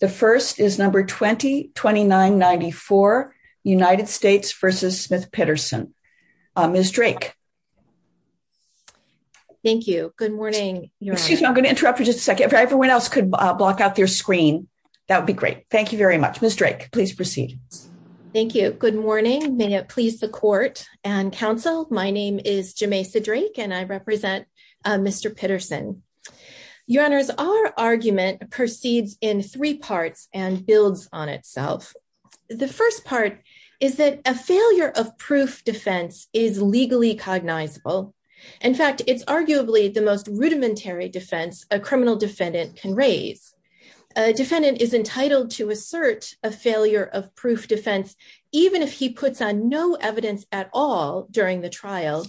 The first is number 202994 United States v. Smith-Petterson. Ms. Drake. Thank you. Good morning. Excuse me, I'm going to interrupt for just a second. If everyone else could block out their screen, that would be great. Thank you very much. Ms. Drake, please proceed. Thank you. Good morning. May it please the Court and Council, my name is Jameisa Drake and I represent Mr. Petterson. Your Honors, our argument proceeds in three parts and builds on itself. The first part is that a failure of proof defense is legally cognizable. In fact, it's arguably the most rudimentary defense a criminal defendant can raise. A defendant is entitled to assert a failure of proof defense, even if he puts on no evidence at all during the trial.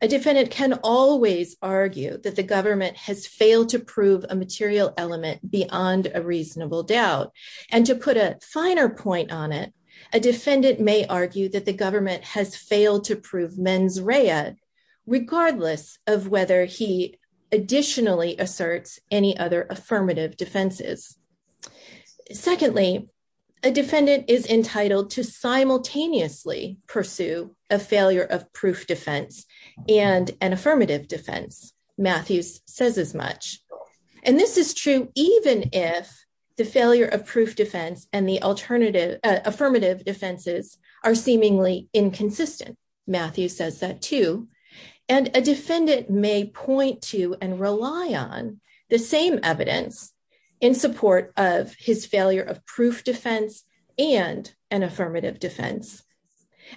A defendant can always argue that the government has failed to prove a material element beyond a reasonable doubt. And to put a finer point on it, a defendant may argue that the government has failed to prove mens rea, regardless of whether he additionally asserts any other affirmative defenses. Secondly, a defendant is entitled to simultaneously pursue a failure of proof defense and an affirmative defense. Matthews says as much. And this is true even if the failure of proof defense and the alternative affirmative defenses are seemingly inconsistent. Matthew says that too. And a defendant may point to and rely on the same evidence in support of his failure of proof defense and an affirmative defense.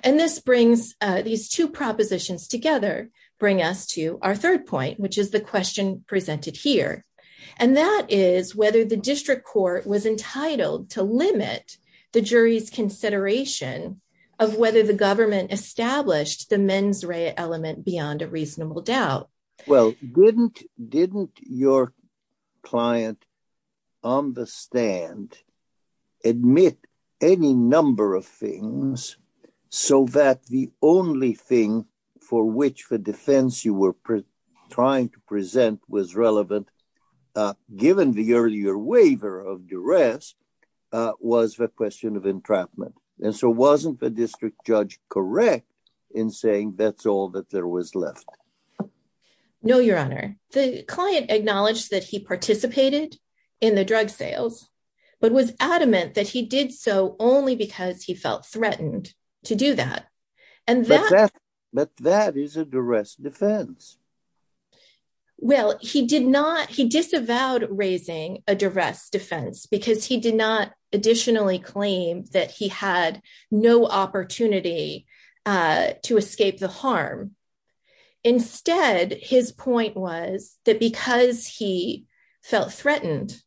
And this brings these two propositions together, bring us to our third point, which is the question presented here. And that is whether the district court was entitled to limit the jury's consideration of whether the government established the mens rea element beyond a reasonable doubt. Well, didn't your client on the stand admit any number of things so that the only thing for which the defense you were trying to present was relevant, given the earlier waiver of duress, was the question of entrapment. And so wasn't the district judge correct in saying that's all that there was left? No, Your Honor. The client acknowledged that he participated in the drug sales, but was adamant that he did so only because he felt threatened to do that. But that is a duress defense. Well, he did not he disavowed raising a duress defense because he did not additionally claim that he had no opportunity to escape the harm. Instead, his point was that because he felt threatened.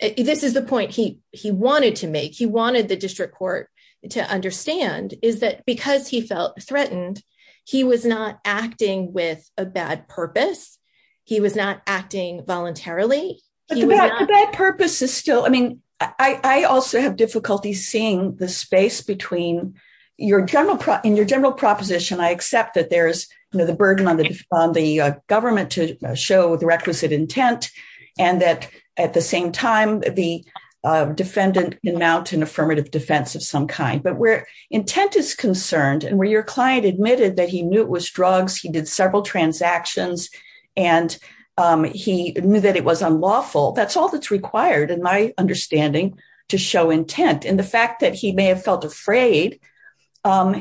This is the point he he wanted to make. He wanted the district court to understand is that because he felt threatened, he was not acting with a bad purpose. He was not acting voluntarily. But the bad purpose is still I mean, I also have difficulty seeing the space between your general in your general proposition. I accept that there is the burden on the government to show the requisite intent and that at the same time, the defendant can mount an affirmative defense of some kind. But where intent is concerned and where your client admitted that he knew it was drugs, he did several transactions and he knew that it was unlawful. That's all that's required in my understanding to show intent. And the fact that he may have felt afraid to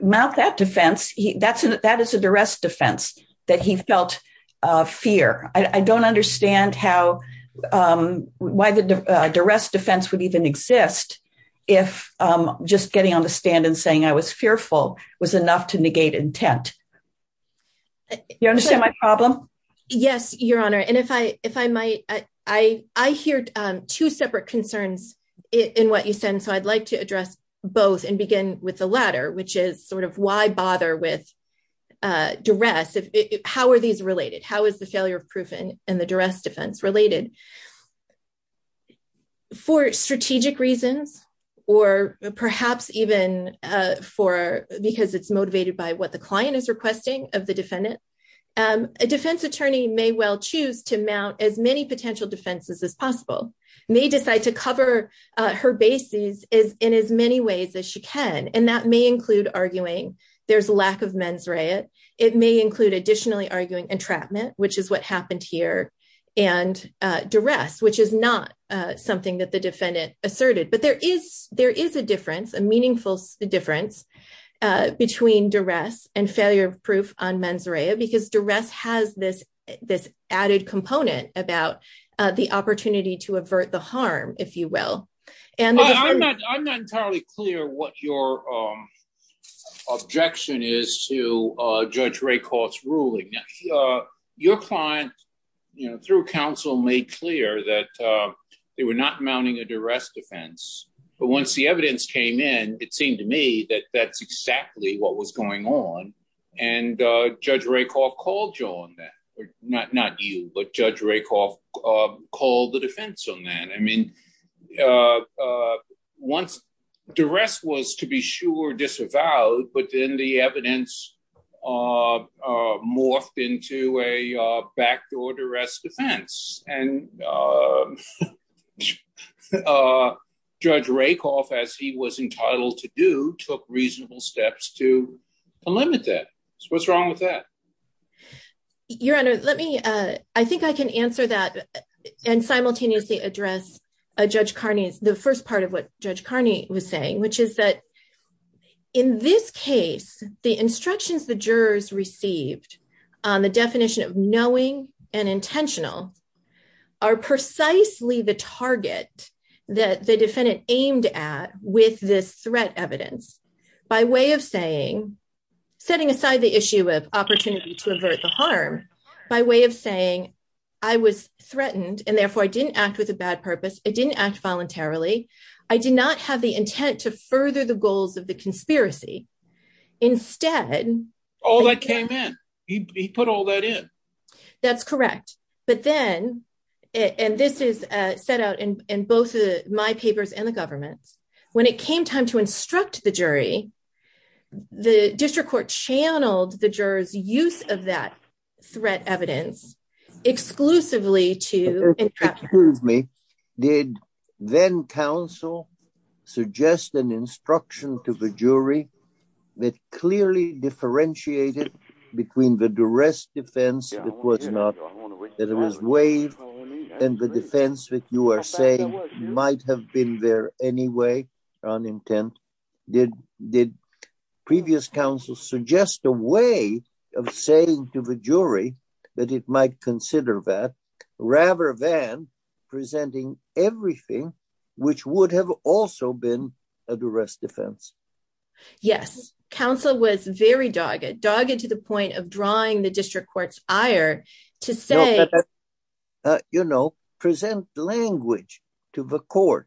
mount that defense. That's that is a duress defense that he felt fear. I don't understand how why the duress defense would even exist if just getting on the stand and saying I was fearful was enough to negate intent. You understand my problem? Yes, Your Honor. And if I if I might, I, I hear two separate concerns in what you said. And so I'd like to address both and begin with the latter, which is sort of why bother with duress? How are these related? How is the failure of proof and the duress defense related? For strategic reasons or perhaps even for because it's motivated by what the client is requesting of the defendant. A defense attorney may well choose to mount as many potential defenses as possible. May decide to cover her bases is in as many ways as she can. And that may include arguing there's a lack of mens rea. It may include additionally arguing entrapment, which is what happened here and duress, which is not something that the defendant asserted. But there is there is a difference, a meaningful difference between duress and failure of proof on mens rea because duress has this this added component about the opportunity to avert the harm, if you will. I'm not entirely clear what your objection is to Judge Rakoff's ruling. Your client through counsel made clear that they were not mounting a duress defense. But once the evidence came in, it seemed to me that that's exactly what was going on. And Judge Rakoff called you on that. Not you, but Judge Rakoff called the defense on that. I mean, once duress was, to be sure, disavowed, but then the evidence morphed into a backdoor duress defense and Judge Rakoff, as he was entitled to do, took reasonable steps to limit that. What's wrong with that? Your Honor, let me I think I can answer that and simultaneously address Judge Carney's the first part of what Judge Carney was saying, which is that in this case, the instructions the jurors received on the definition of knowing and intentional are precisely the target that the defendant aimed at with this threat evidence by way of saying, setting aside the issue of opportunity to avert the harm by way of saying, I was threatened, and therefore I didn't act with a bad purpose. I didn't act voluntarily. I did not have the intent to further the goals of the conspiracy. Instead, All that came in. He put all that in. That's correct. But then, and this is set out in both my papers and the government's when it came time to instruct the jury. The district court channeled the jurors use of that threat evidence exclusively to Excuse me. Did then counsel suggest an instruction to the jury that clearly differentiated between the duress defense that was not, that it was waived and the defense that you are saying might have been there anyway on intent? Did previous counsel suggest a way of saying to the jury that it might consider that rather than presenting everything which would have also been a duress defense? Yes, counsel was very dogged, dogged to the point of drawing the district court's ire to say You know, present language to the court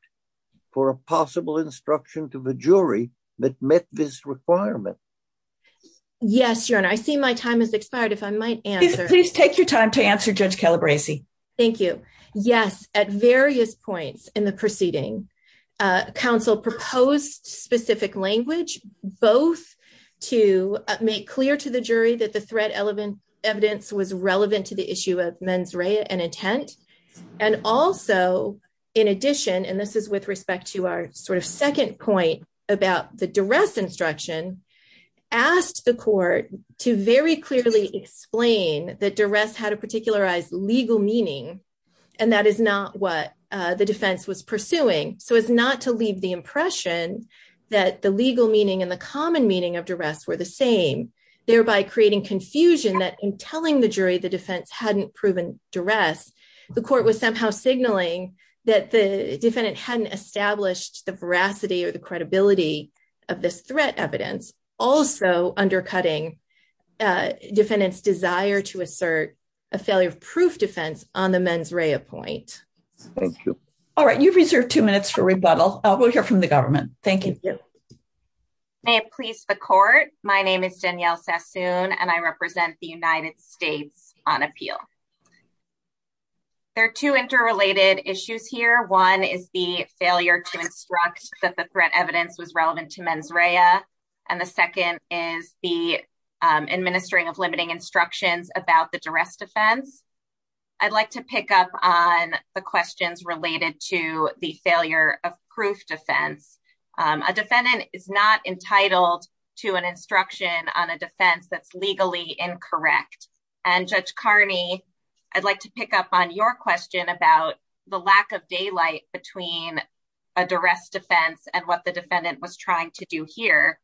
for a possible instruction to the jury that met this requirement. Yes, Your Honor. I see my time has expired. If I might answer. Please take your time to answer Judge Calabresi. Thank you. Yes, at various points in the proceeding. Counsel proposed specific language, both to make clear to the jury that the threat element evidence was relevant to the issue of mens rea and intent. And also, in addition, and this is with respect to our sort of second point about the duress instruction. Asked the court to very clearly explain that duress had a particularized legal meaning. And that is not what the defense was pursuing. So it's not to leave the impression that the legal meaning and the common meaning of duress were the same, thereby creating confusion that in telling the jury, the defense hadn't proven duress. The court was somehow signaling that the defendant hadn't established the veracity or the credibility of this threat evidence also undercutting defendants desire to assert a failure of proof defense on the mens rea point. Thank you. All right. You've reserved two minutes for rebuttal. We'll hear from the government. Thank you. May it please the court. My name is Danielle Sassoon and I represent the United States on appeal. There are two interrelated issues here. One is the failure to instruct that the threat evidence was relevant to mens rea. And the second is the administering of limiting instructions about the duress defense. I'd like to pick up on the questions related to the failure of proof defense. A defendant is not entitled to an instruction on a defense that's legally incorrect. And Judge Carney, I'd like to pick up on your question about the lack of daylight between a duress defense and what the defendant was trying to do here.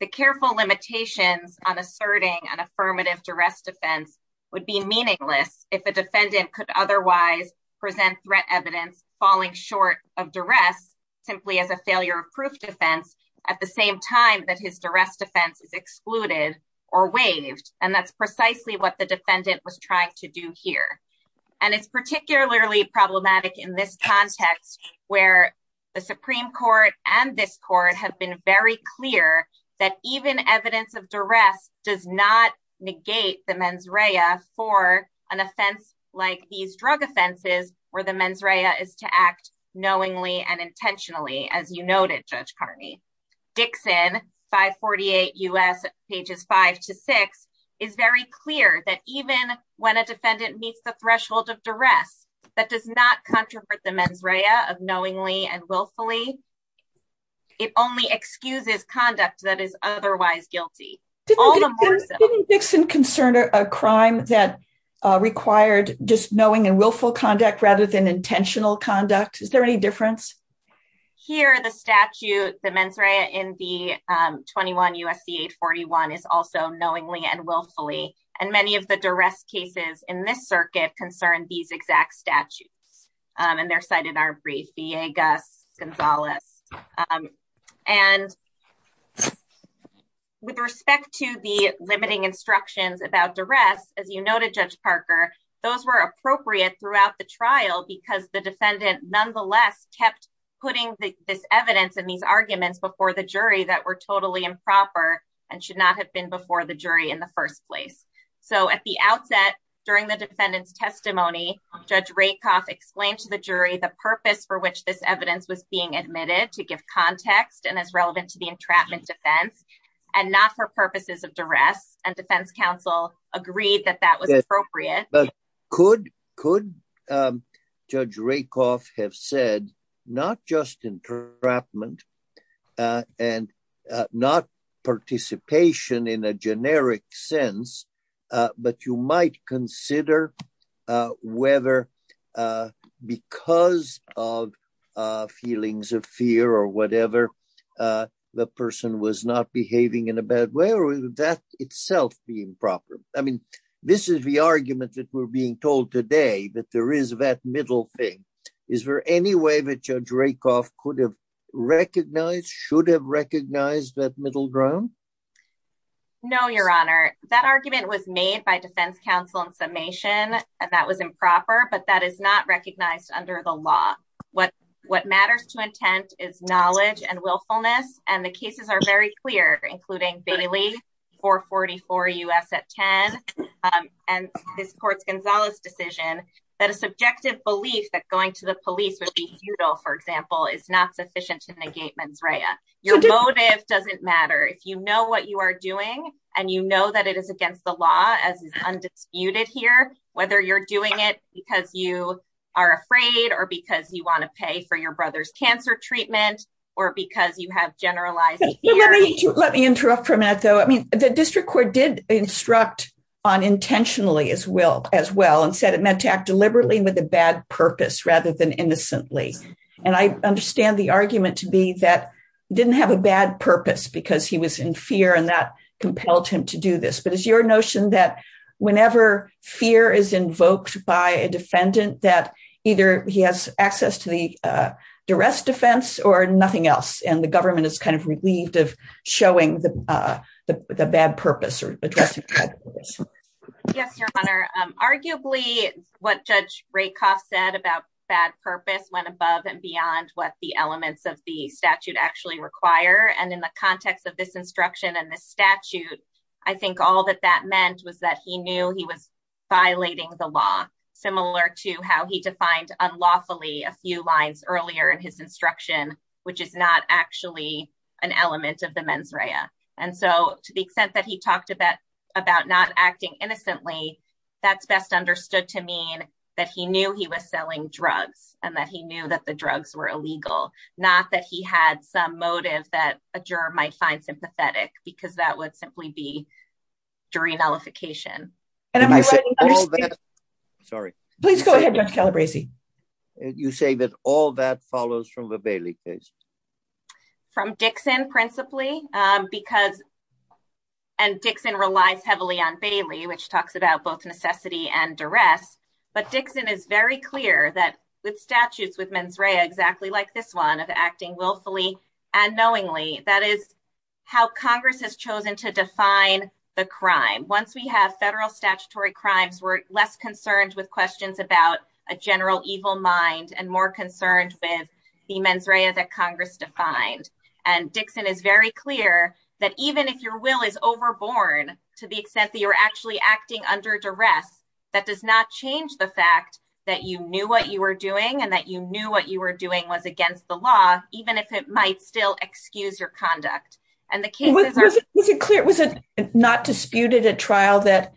The careful limitations on asserting an affirmative duress defense would be meaningless if the defendant could otherwise present threat evidence falling short of duress simply as a failure of proof defense at the same time that his duress defense is excluded or waived. And that's precisely what the defendant was trying to do here. And it's particularly problematic in this context where the Supreme Court and this court have been very clear that even evidence of duress does not negate the mens rea for an offense like these drug offenses where the mens rea is to act knowingly and intentionally, as you noted, Judge Carney. Dixon, 548 U.S., pages 5 to 6, is very clear that even when a defendant meets the threshold of duress, that does not contravert the mens rea of knowingly and willfully. It only excuses conduct that is otherwise guilty. Didn't Dixon concern a crime that required just knowing and willful conduct rather than intentional conduct? Is there any difference? Here, the statute, the mens rea in the 21 U.S.C. 841 is also knowingly and willfully. And many of the duress cases in this circuit concern these exact statutes. And they're cited in our brief, B.A. Gus, Gonzalez. And with respect to the limiting instructions about duress, as you noted, Judge Parker, those were appropriate throughout the trial because the defendant nonetheless kept putting this evidence and these arguments before the jury that were totally improper and should not have been before the jury in the first place. So at the outset, during the defendant's testimony, Judge Rakoff explained to the jury the purpose for which this evidence was being admitted to give context and is relevant to the entrapment defense and not for purposes of duress. And defense counsel agreed that that was appropriate. But could Judge Rakoff have said not just entrapment and not participation in a generic sense, but you might consider whether because of feelings of fear or whatever, the person was not behaving in a bad way or would that itself be improper? I mean, this is the argument that we're being told today that there is that middle thing. Is there any way that Judge Rakoff could have recognized, should have recognized that middle ground? No, Your Honor. That argument was made by defense counsel in summation, and that was improper, but that is not recognized under the law. What matters to intent is knowledge and willfulness. And the cases are very clear, including Bailey, 444 U.S. at 10. And this court's Gonzalez decision that a subjective belief that going to the police would be futile, for example, is not sufficient to negate mens rea. Your motive doesn't matter if you know what you are doing and you know that it is against the law as is undisputed here, whether you're doing it because you are afraid or because you want to pay for your brother's cancer treatment or because you have generalized fear. Let me interrupt for a minute, though. I mean, the district court did instruct on intentionally as well and said it meant to act deliberately with a bad purpose rather than innocently. And I understand the argument to be that didn't have a bad purpose because he was in fear and that compelled him to do this. But is your notion that whenever fear is invoked by a defendant, that either he has access to the duress defense or nothing else and the government is kind of relieved of showing the bad purpose or addressing this? Yes, Your Honor. Arguably, what Judge Rakoff said about bad purpose went above and beyond what the elements of the statute actually require. And in the context of this instruction and the statute, I think all that that meant was that he knew he was violating the law, similar to how he defined unlawfully a few lines earlier in his instruction, which is not actually an element of the mens rea. And so to the extent that he talked about about not acting innocently, that's best understood to mean that he knew he was selling drugs and that he knew that the drugs were illegal, not that he had some motive that a juror might find sympathetic because that would simply be jury nullification. And I'm sorry. Please go ahead. You say that all that follows from the Bailey case? From Dixon, principally, because and Dixon relies heavily on Bailey, which talks about both necessity and duress. But Dixon is very clear that with statutes with mens rea exactly like this one of acting willfully and knowingly, that is how Congress has chosen to define the crime. Once we have federal statutory crimes, we're less concerned with questions about a general evil mind and more concerned with the mens rea that Congress defined. And Dixon is very clear that even if your will is overborne to the extent that you're actually acting under duress, that does not change the fact that you knew what you were doing and that you knew what you were doing was against the law, even if it might still excuse your conduct. Was it clear, was it not disputed at trial that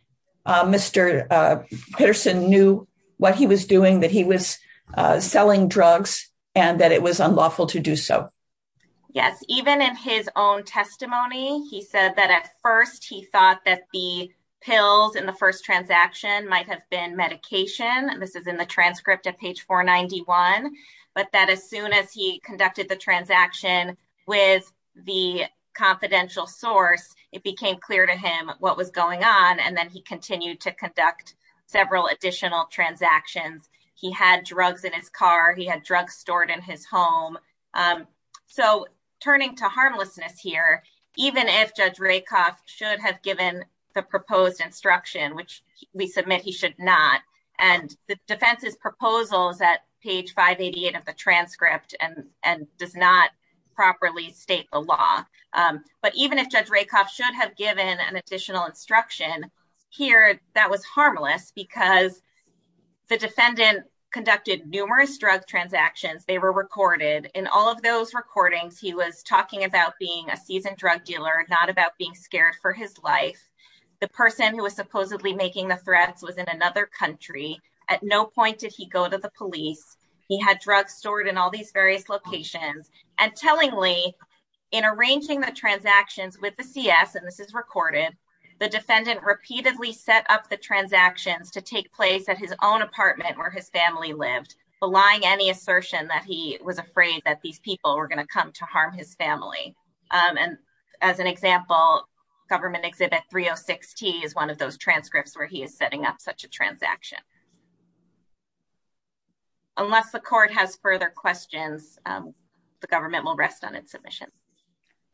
Mr. Peterson knew what he was doing, that he was selling drugs and that it was unlawful to do so? Yes, even in his own testimony, he said that at first he thought that the pills in the first transaction might have been medication. This is in the transcript of page 491, but that as soon as he conducted the transaction with the confidential source, it became clear to him what was going on. And then he continued to conduct several additional transactions. He had drugs in his car. He had drugs stored in his home. So turning to harmlessness here, even if Judge Rakoff should have given the proposed instruction, which we submit he should not, and the defense's proposals at page 588 of the transcript and does not properly state the law. But even if Judge Rakoff should have given an additional instruction here, that was harmless because the defendant conducted numerous drug transactions. They were recorded in all of those recordings. He was talking about being a seasoned drug dealer, not about being scared for his life. The person who was supposedly making the threats was in another country. At no point did he go to the police. He had drugs stored in all these various locations. And tellingly, in arranging the transactions with the CS, and this is recorded, the defendant repeatedly set up the transactions to take place at his own apartment where his family lived, belying any assertion that he was afraid that these people were going to come to harm his family. And as an example, Government Exhibit 306-T is one of those transcripts where he is setting up such a transaction. Unless the court has further questions, the government will rest on its submission.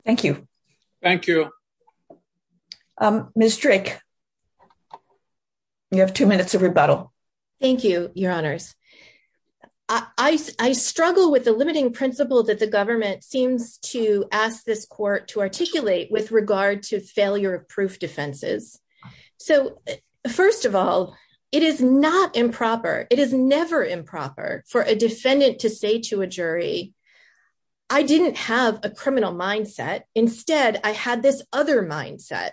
Thank you. Thank you. Ms. Strick, you have two minutes of rebuttal. Thank you, Your Honors. I struggle with the limiting principle that the government seems to ask this court to articulate with regard to failure of proof defenses. So, first of all, it is not improper. It is never improper for a defendant to say to a jury, I didn't have a criminal mindset. Instead, I had this other mindset.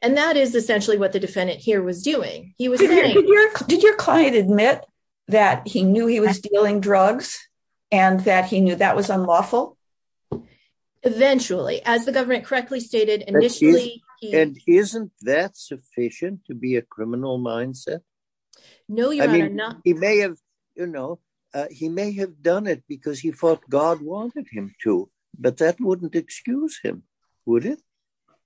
And that is essentially what the defendant here was doing. Did your client admit that he knew he was dealing drugs and that he knew that was unlawful? Eventually. As the government correctly stated initially. And isn't that sufficient to be a criminal mindset? No, Your Honor. He may have done it because he thought God wanted him to, but that wouldn't excuse him, would it?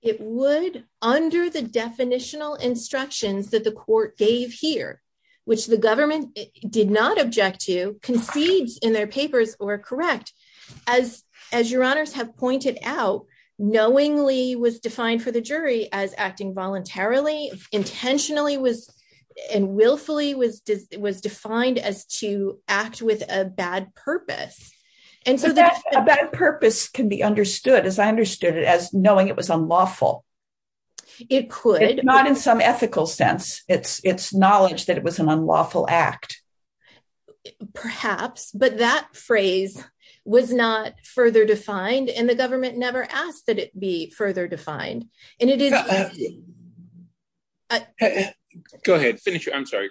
It would, under the definitional instructions that the court gave here, which the government did not object to, concedes in their papers were correct. As Your Honors have pointed out, knowingly was defined for the jury as acting voluntarily. Intentionally and willfully was defined as to act with a bad purpose. A bad purpose can be understood, as I understood it, as knowing it was unlawful. It could. Not in some ethical sense. It's knowledge that it was an unlawful act. Perhaps. But that phrase was not further defined and the government never asked that it be further defined. And it is. Go ahead. I'm sorry.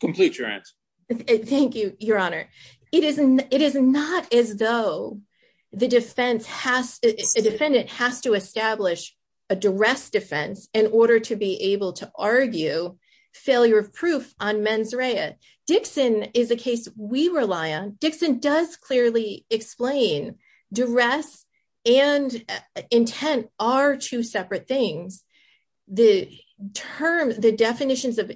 Complete your answer. Thank you, Your Honor. It is not as though a defendant has to establish a duress defense in order to be able to argue failure of proof on mens rea. Dixon is a case we rely on. Dixon does clearly explain duress and intent are two separate things. The definitions of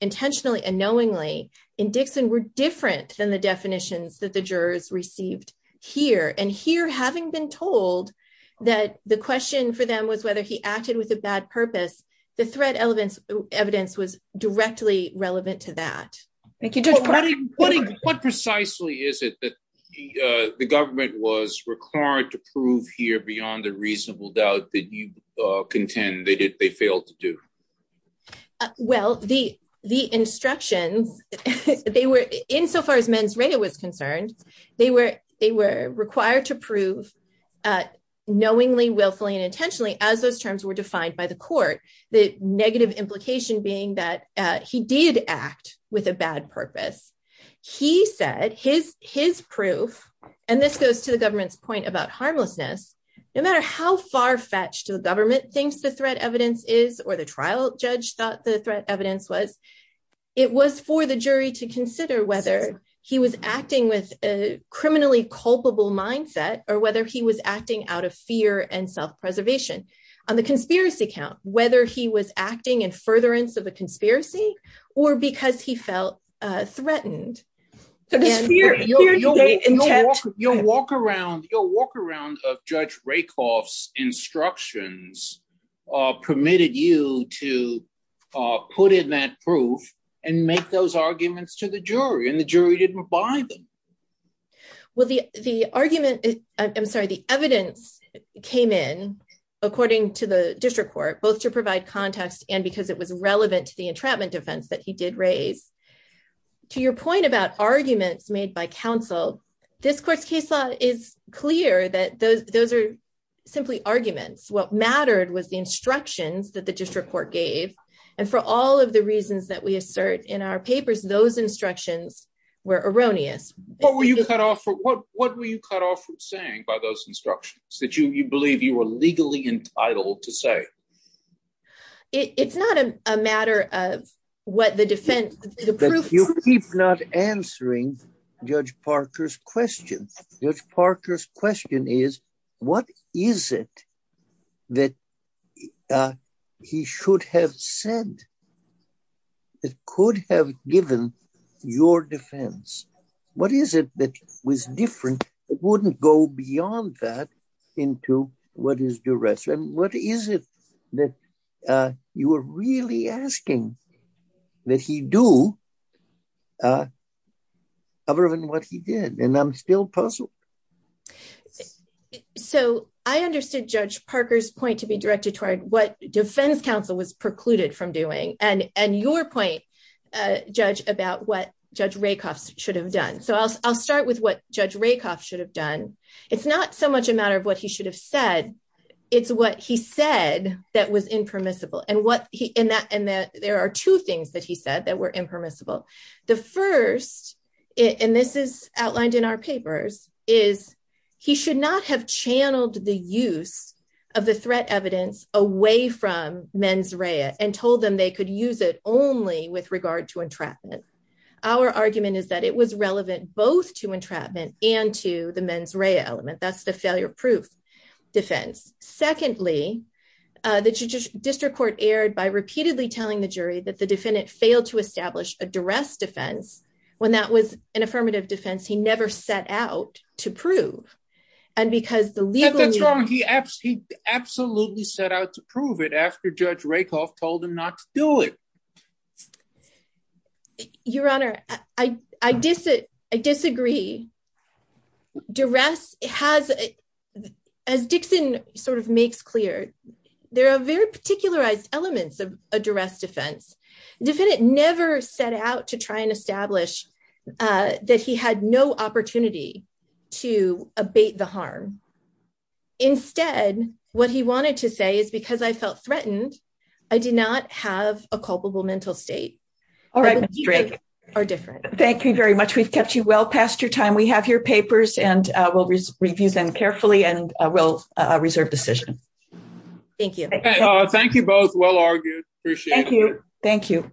intentionally and knowingly in Dixon were different than the definitions that the jurors received here. And here, having been told that the question for them was whether he acted with a bad purpose, the threat evidence was directly relevant to that. What precisely is it that the government was required to prove here beyond the reasonable doubt that you contend they failed to do? Well, the instructions, insofar as mens rea was concerned, they were required to prove knowingly, willfully, and intentionally as those terms were defined by the court. The negative implication being that he did act with a bad purpose. He said his proof, and this goes to the government's point about harmlessness, no matter how far fetched the government thinks the threat evidence is or the trial judge thought the threat evidence was, it was for the jury to consider whether he was acting with a criminally culpable mindset or whether he was acting out of fear and self-preservation. On the conspiracy count, whether he was acting in furtherance of a conspiracy or because he felt threatened. You'll walk around of Judge Rakoff's instructions permitted you to put in that proof and make those arguments to the jury and the jury didn't buy them. Well, the argument, I'm sorry, the evidence came in, according to the district court, both to provide context and because it was relevant to the entrapment defense that he did raise. To your point about arguments made by counsel, this court's case law is clear that those are simply arguments. What mattered was the instructions that the district court gave, and for all of the reasons that we assert in our papers, those instructions were erroneous. What were you cut off from saying by those instructions that you believe you were legally entitled to say? It's not a matter of what the defense... You keep not answering Judge Parker's question. Judge Parker's question is, what is it that he should have said that could have given your defense? What is it that was different? It wouldn't go beyond that into what is the rest. And what is it that you were really asking that he do other than what he did? And I'm still puzzled. So I understood Judge Parker's point to be directed toward what defense counsel was precluded from doing and your point, Judge, about what Judge Rakoff should have done. So I'll start with what Judge Rakoff should have done. It's not so much a matter of what he should have said. It's what he said that was impermissible. And there are two things that he said that were impermissible. The first, and this is outlined in our papers, is he should not have channeled the use of the threat evidence away from mens rea and told them they could use it only with regard to entrapment. Our argument is that it was relevant both to entrapment and to the mens rea element. That's the failure proof defense. Secondly, the district court erred by repeatedly telling the jury that the defendant failed to establish a duress defense when that was an affirmative defense. He never set out to prove and because the legal... That's wrong. He absolutely set out to prove it after Judge Rakoff told him not to do it. Your Honor, I disagree. Duress has, as Dixon sort of makes clear, there are very particularized elements of a duress defense. The defendant never set out to try and establish that he had no opportunity to abate the harm. Instead, what he wanted to say is because I felt threatened, I did not have a culpable mental state. All right, Ms. Drake. Thank you very much. We've kept you well past your time. We have your papers and we'll review them carefully and we'll reserve decision. Thank you. Thank you both. Well argued. Appreciate it. Thank you. Thank you.